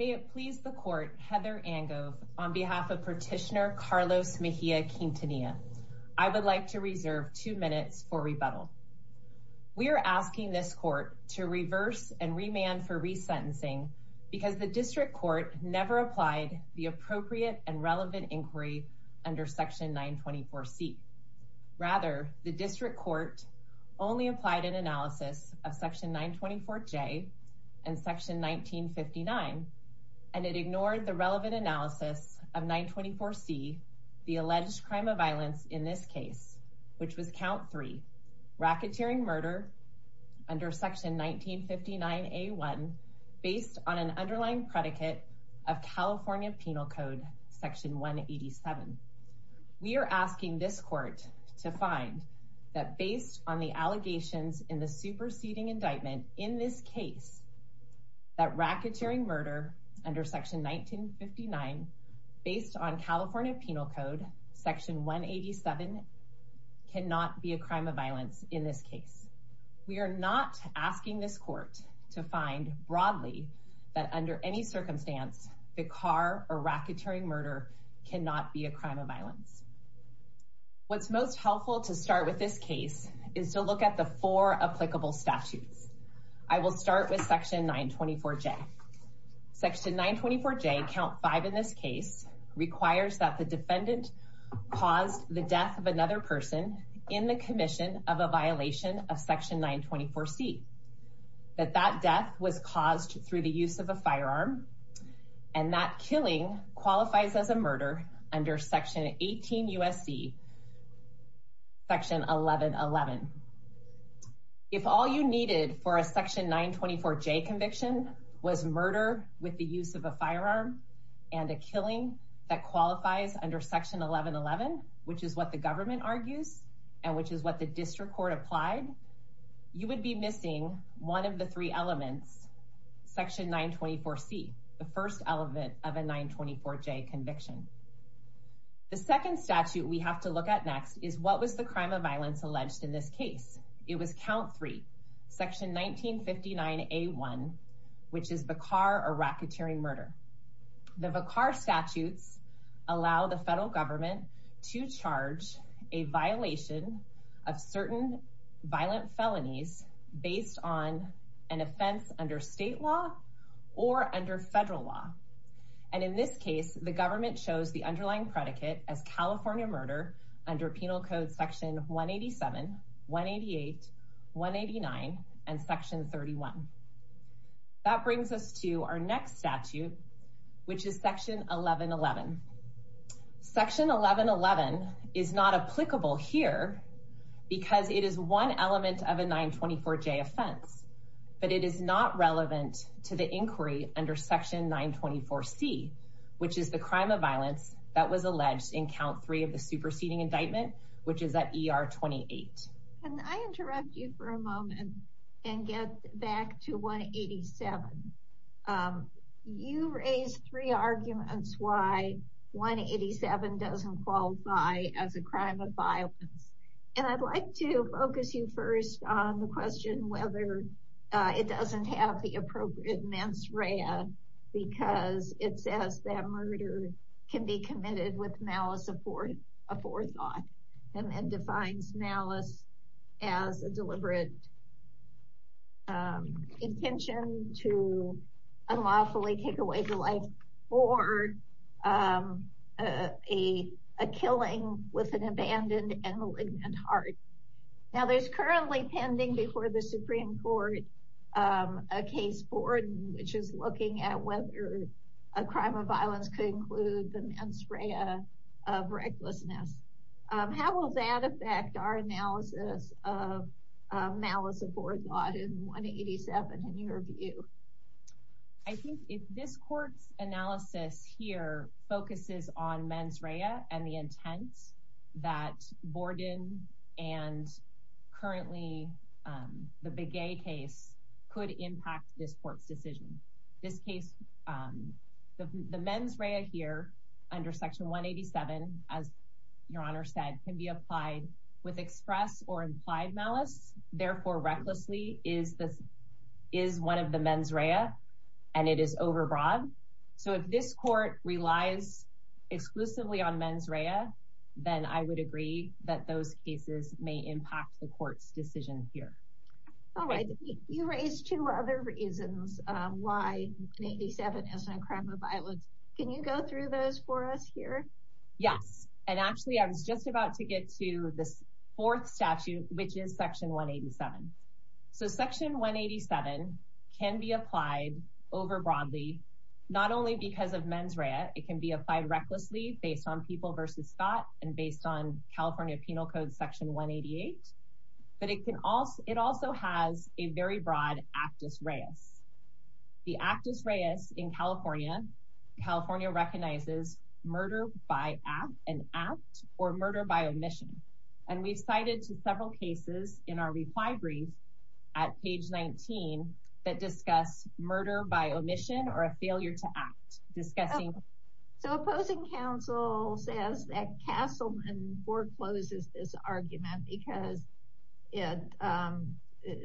May it please the Court, Heather Angove, on behalf of Petitioner Carlos Mejia-Quintanilla, I would like to reserve two minutes for rebuttal. We are asking this Court to reverse and remand for resentencing because the District Court never applied the appropriate and relevant inquiry under Section 924C. Rather, the District Court only applied an analysis of Section 924J and Section 1959, and it ignored the relevant analysis of 924C, the alleged crime of violence in this case, which was Count 3, racketeering murder under Section 1959A1 based on an underlying predicate of California Penal Code Section 187. We are asking this Court to find that based on the allegations in the superseding indictment in this case, that racketeering murder under Section 1959 based on California Penal Code Section 187 cannot be a crime of violence in this case. We are not asking this Court to find broadly that under any circumstance, the car or racketeering murder cannot be a crime of violence. What's most helpful to start with this case is to look at the four applicable statutes. I will start with Section 924J. Section 924J, Count 5 in this case, requires that the defendant caused the death of another person in the commission of a violation of Section 924C, that that death was caused through the use of a firearm, and that killing qualifies as a murder under Section 18 USC Section 1111. If all you needed for a Section 924J conviction was murder with the use of a firearm and a firearm, as the federal government argues, and which is what the District Court applied, you would be missing one of the three elements, Section 924C, the first element of a 924J conviction. The second statute we have to look at next is what was the crime of violence alleged in this case? It was Count 3, Section 1959A1, which is the car or racketeering murder. The VACAR statutes allow the federal government to charge a violation of certain violent felonies based on an offense under state law or under federal law. And in this case, the government chose the underlying predicate as California murder under Penal Code Section 187, 188, 189, and Section 31. That brings us to our next statute, which is Section 1111. Section 1111 is not applicable here because it is one element of a 924J offense, but it is not relevant to the inquiry under Section 924C, which is the crime of violence that was alleged in Count 3 of the superseding indictment, which is at ER 28. Can I interrupt you for a moment and get back to 187? You raised three arguments why 187 doesn't qualify as a crime of violence, and I'd like to focus you first on the question whether it doesn't have the appropriate mens rea because it says that murder can be committed with malice aforethought and defines malice as a deliberate intention to unlawfully take away the life or a killing with an abandoned and malignant heart. Now, there's currently pending before the Supreme Court a case board which is looking at whether a crime of violence could include the mens rea of recklessness. How will that affect our analysis of malice aforethought in 187 in your view? I think if this court's analysis here focuses on mens rea and the intent that Borden and currently the Begay case could impact this court's decision. This case, the mens rea here under Section 187, as your Honor said, can be applied with express or implied malice, therefore recklessly is one of the mens rea and it is overbroad. So if this court relies exclusively on mens rea, then I would agree that those cases may impact the court's decision here. All right, you raised two other reasons why 187 is a crime of violence. Can you go through those for us here? Yes, and actually I was just about to get to this fourth statute which is Section 187. So Section 187 can be applied over broadly, not only because of mens rea, it can be applied recklessly based on people versus thought and based on California Penal Code Section 188, but it also has a very broad actus reus. The actus reus in California recognizes murder by an act or murder by omission. And we've cited several cases in our reply brief at page 19 that discuss murder by omission or a failure to act. So opposing counsel says that Castleman forecloses this argument because it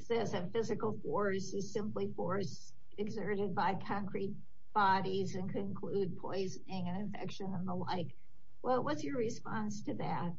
says that physical force is simply force exerted by concrete bodies and can include poisoning and infection and the like. Well, what's your response to that?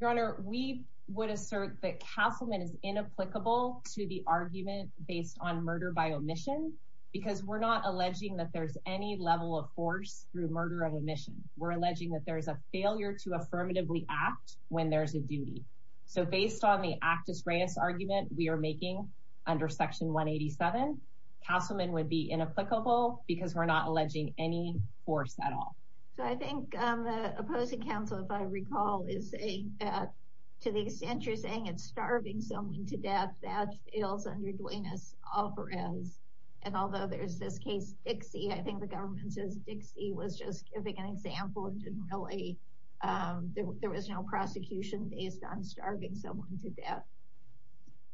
Your Honor, we would assert that Castleman is inapplicable to the argument based on murder by omission because we're not alleging that there's any level of force through murder of omission. We're alleging that there's a failure to affirmatively act when there's a duty. So based on the actus reus argument we are making under Section 187, Castleman would be inapplicable because we're not alleging any force at all. So I think the opposing counsel, if I recall, is saying that to the extent you're saying it's starving someone to death, that fails under Duenas-Alvarez. And although there's this case, Dixie, I think the government says Dixie was just giving an example and didn't really, there was no prosecution based on starving someone to death.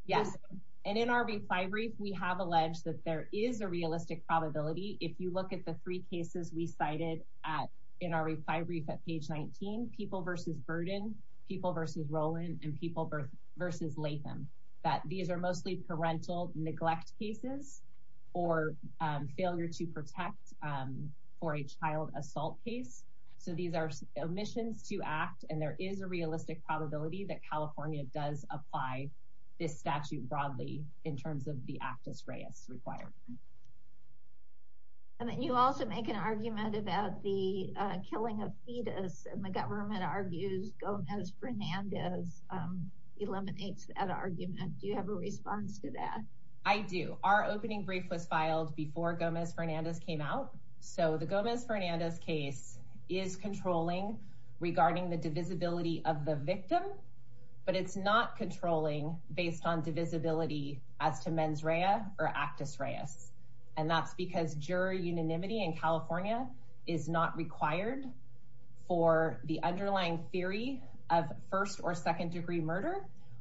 Yes. And in our reply brief, we have alleged that there is a realistic probability. If you look at the three cases we cited in our reply brief at page 19, people versus Burden, people versus Rowland, and people versus Latham, that these are mostly parental neglect cases or failure to protect for a child assault case. So these are omissions to act and there is a realistic probability that California does apply this statute broadly in terms of the actus reus required. And then you also make an argument about the killing of fetus and the government argues Gomez-Fernandez eliminates that argument. Do you have a response to that? I do. Our opening brief was filed before Gomez-Fernandez came out. So the Gomez-Fernandez case is controlling regarding the divisibility of the victim, but it's not controlling based on divisibility as to mens rea or actus reus. And that's because juror unanimity in California is not required for the underlying theory of first or second degree murder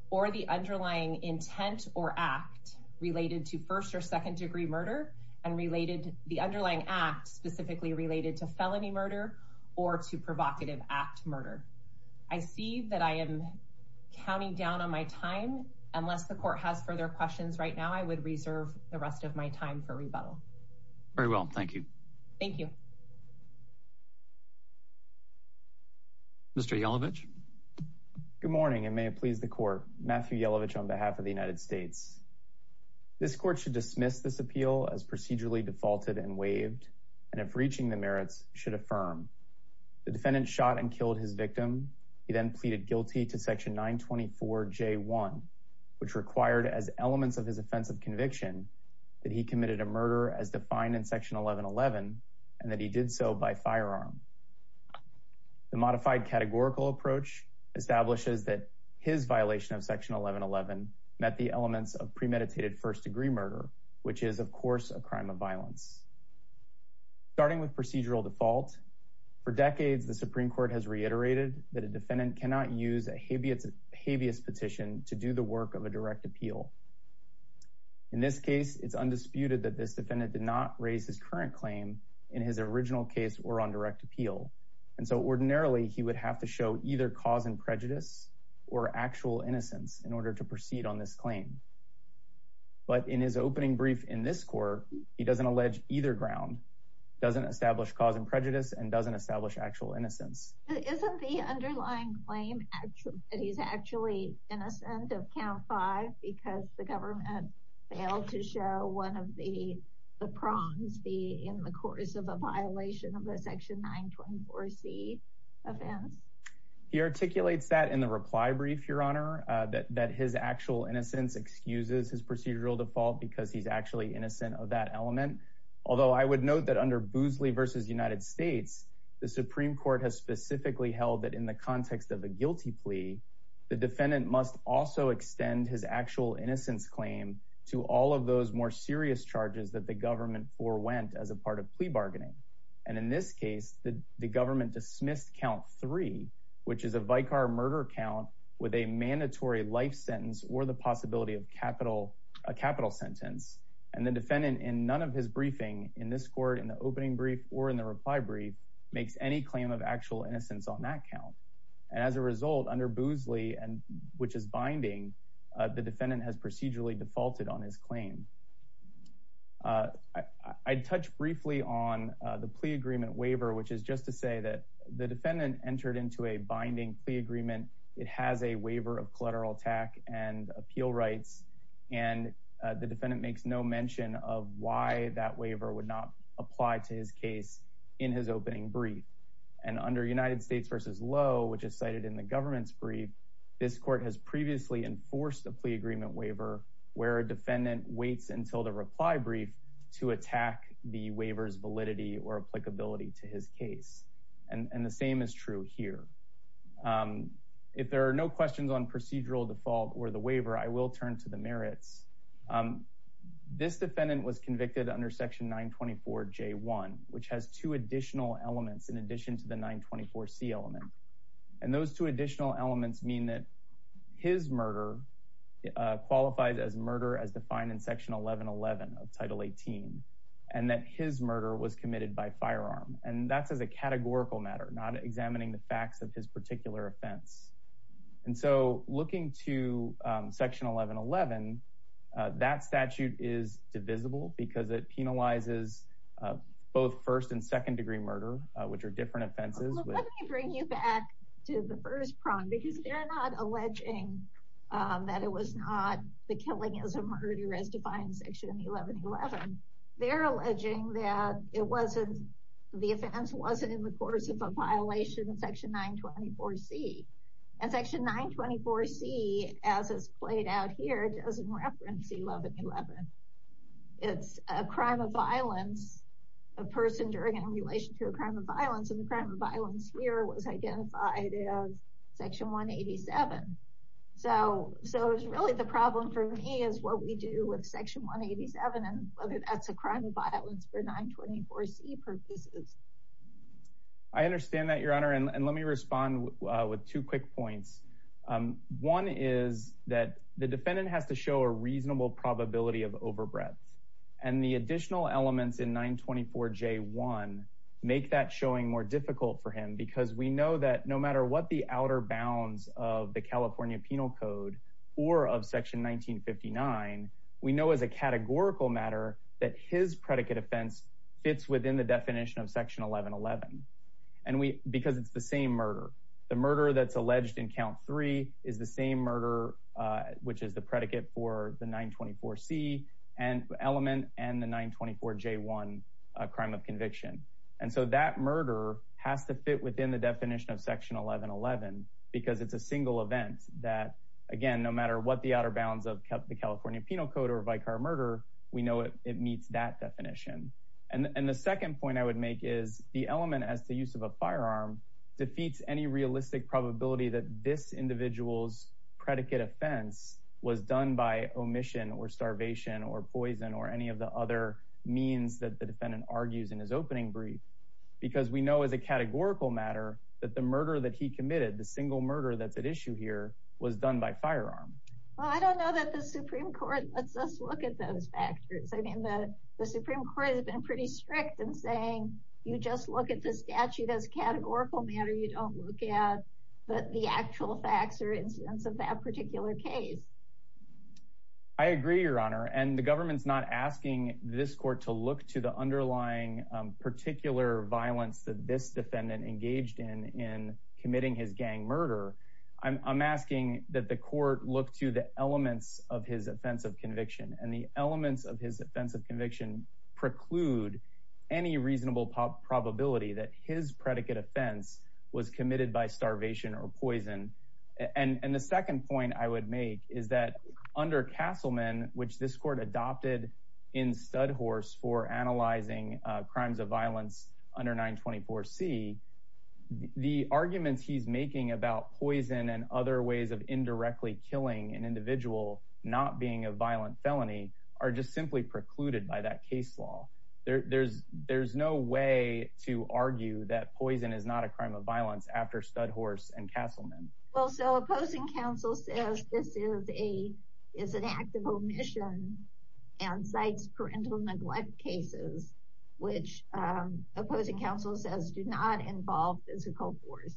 or the underlying intent or act related to first or second degree murder and related the underlying act specifically related to felony murder or to provocative act murder. I see that I am counting down on my time. Unless the court has further questions right now, I would reserve the rest of my time for rebuttal. Very well. Thank you. Thank you. Mr. Yellovich. Good morning and may it please the court. Matthew Yellovich on behalf of the United States. This court should dismiss this appeal as procedurally defaulted and waived and if reaching the merits should affirm. The defendant shot and killed his victim. He then pleaded guilty to section 924 J1, which required as elements of his offensive conviction that he committed a murder as defined in section 1111 and that he did so by firearm. The modified categorical approach establishes that his violation of section 1111 met the elements of premeditated first degree murder, which is, of course, a crime of violence. Starting with procedural default for decades, the Supreme Court has reiterated that a defendant cannot use a habeas petition to do the work of a direct appeal. In this case, it's undisputed that this defendant did not raise his current claim in his original case or on direct appeal. And so ordinarily he would have to show either cause and prejudice or actual innocence in order to proceed on this claim. But in his opening brief in this court, he doesn't allege either ground, doesn't establish cause and prejudice, and doesn't establish actual innocence. Isn't the underlying claim that he's actually innocent of count five because the government failed to show one of the prongs be in the course of a violation of a section 924 C offense? He articulates that in the reply brief, Your Honor, that his actual innocence exceeds the procedural default because he's actually innocent of that element. Although I would note that under Boosley v. United States, the Supreme Court has specifically held that in the context of a guilty plea, the defendant must also extend his actual innocence claim to all of those more serious charges that the government forwent as a part of plea bargaining. And in this case, the government dismissed count three, which is a vicar murder count with a mandatory life sentence or the possibility of a capital sentence. And the defendant in none of his briefing in this court, in the opening brief or in the reply brief, makes any claim of actual innocence on that count. And as a result, under Boosley, which is binding, the defendant has procedurally defaulted on his claim. I'd touch briefly on the plea agreement waiver, which is just to say that the defendant entered into a binding plea agreement. It has a waiver of collateral attack and appeal rights, and the defendant makes no mention of why that waiver would not apply to his case in his opening brief. And under United States v. Lowe, which is cited in the government's brief, this court has previously enforced a plea agreement waiver where a defendant waits until the reply brief to attack the waiver's validity or applicability to his case. And the same is true here. If there are no questions on procedural default or the waiver, I will turn to the merits. This defendant was convicted under Section 924J1, which has two additional elements in addition to the 924C element. And those two additional elements mean that his murder qualifies as murder as defined in Section 1111 of Title 18, and that his murder was committed by firearm. And that's as a categorical matter, not examining the facts of his particular offense. And so looking to Section 1111, that statute is divisible because it penalizes both first and second degree murder, which are different offenses. Well, let me bring you back to the first prong, because they're not alleging that it was not the killing as a murder as defined in Section 1111. They're alleging that it wasn't, the offense wasn't in the course of a violation of Section 924C. And Section 924C, as is played out here, doesn't reference 1111. It's a crime of violence, a person during and in relation to a crime of violence, and the crime of violence here was identified as Section 187. So it was really the problem for me is what we do with Section 187 and whether that's a crime of violence for 924C purposes. I understand that, Your Honor, and let me respond with two quick points. One is that the defendant has to show a reasonable probability of overbreadth, and the additional elements in 924J1 make that showing more difficult for him, because we know that no matter what the outer bounds of the California Penal Code or of Section 1959, we know as a categorical matter that his predicate offense fits within the definition of Section 1111, because it's the same murder. The murder that's alleged in Count 3 is the same murder, which is the predicate for the 924C element and the 924J1 crime of conviction. And so that murder has to fit within the definition of Section 1111, because it's a single event that, again, no matter what the outer bounds of the California Penal Code or vicar murder, we know it meets that definition. And the second point I would make is the element as the use of a firearm defeats any realistic probability that this individual's predicate offense was done by omission or starvation or poison or any of the other means that the defendant argues in his opening brief, because we know as a categorical matter that the murder that he committed, the single murder that's at issue here, was done by firearm. Well, I don't know that the Supreme Court lets us look at those factors. I mean, the Supreme Court has been pretty strict in saying you just look at the statute as a categorical matter. You don't look at the actual facts or incidents of that particular case. I agree, Your Honor. And the government's not asking this court to look to the underlying particular violence that this defendant engaged in in committing his gang murder. I'm asking that the court look to the elements of his offense of conviction and the elements of his offense of conviction preclude any reasonable probability that his predicate offense was committed by starvation or poison. And the second point I would make is that under Castleman, which this court adopted in Studhorse for analyzing crimes of violence under 924C, the arguments he's making about poison and other ways of indirectly killing an individual not being a violent felony are just simply precluded by that case law. There's no way to argue that poison is not a crime of violence after Studhorse and Castleman. Well, so opposing counsel says this is an act of omission and cites parental neglect cases, which opposing counsel says do not involve physical force.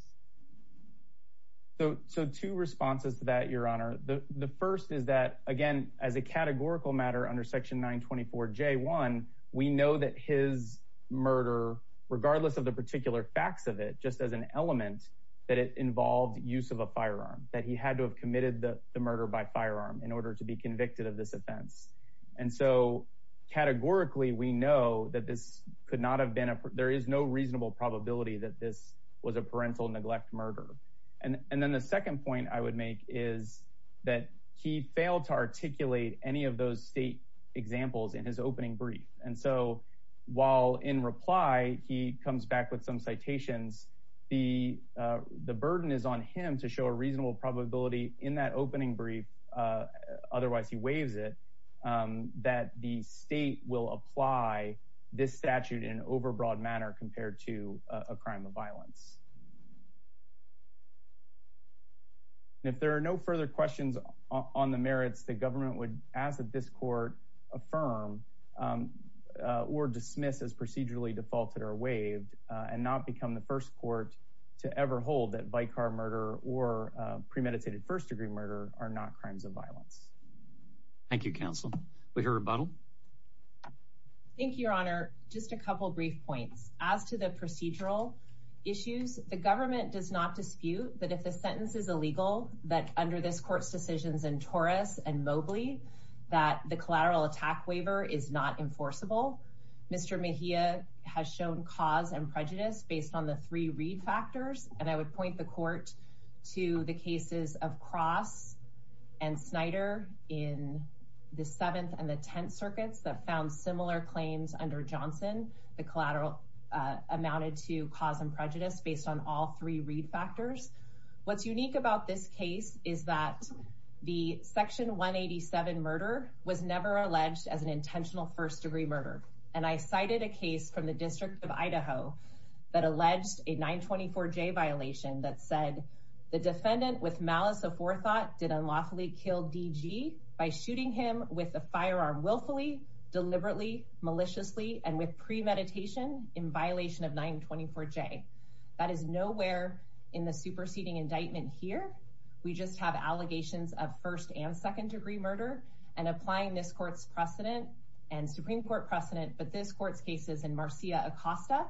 So two responses to that, Your Honor. The first is that, again, as a categorical matter under Section 924J1, we know that his murder, regardless of the particular facts of it, just as an element, that it involved use of a firearm, that he had to have committed the murder by firearm in order to be convicted of this offense. And so categorically, we know that this could not have been—there is no reasonable probability that this was a parental neglect murder. And then the second point I would make is that he failed to articulate any of those state examples in his opening brief. And so while in reply, he comes back with some citations, the burden is on him to show a reasonable probability in that opening brief, otherwise he waives it, that the state will apply this statute in an overbroad manner compared to a crime of violence. And if there are no further questions on the merits, the government would ask that this court affirm or dismiss as procedurally defaulted or waived, and not become the first court to ever hold that vicar murder or premeditated first-degree murder are not crimes of violence. Thank you, counsel. We hear a rebuttal. Thank you, Your Honor. Just a couple brief points. As to the procedural issues, the government does not dispute that if the sentence is illegal, that under this court's decisions in Torres and Mobley, that the collateral attack waiver is not enforceable. Mr. Mejia has shown cause and prejudice based on the three Reed factors. And I would point the court to the cases of Cross and Snyder in the Seventh and the Tenth amounted to cause and prejudice based on all three Reed factors. What's unique about this case is that the Section 187 murder was never alleged as an intentional first-degree murder. And I cited a case from the District of Idaho that alleged a 924J violation that said, the defendant with malice of forethought did unlawfully kill DG by shooting him with a of 924J. That is nowhere in the superseding indictment here. We just have allegations of first and second-degree murder. And applying this court's precedent and Supreme Court precedent, but this court's cases in Marcia Acosta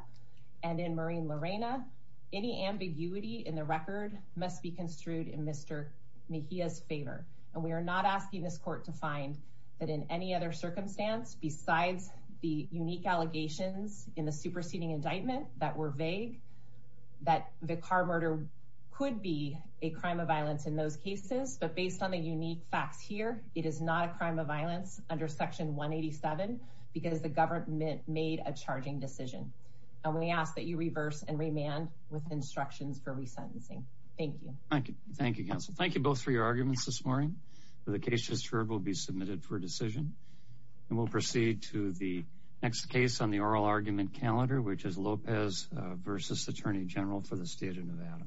and in Maureen Lorena, any ambiguity in the record must be construed in Mr. Mejia's favor. And we are not asking this court to find that in any other circumstance besides the unique allegations in the superseding indictment that were vague, that the car murder could be a crime of violence in those cases. But based on the unique facts here, it is not a crime of violence under Section 187 because the government made a charging decision. And we ask that you reverse and remand with instructions for resentencing. Thank you. Thank you. Thank you, counsel. Thank you both for your arguments this morning. The case just heard will be submitted for decision. And we'll proceed to the next case on the oral argument calendar, which is Lopez versus Attorney General for the State of Nevada.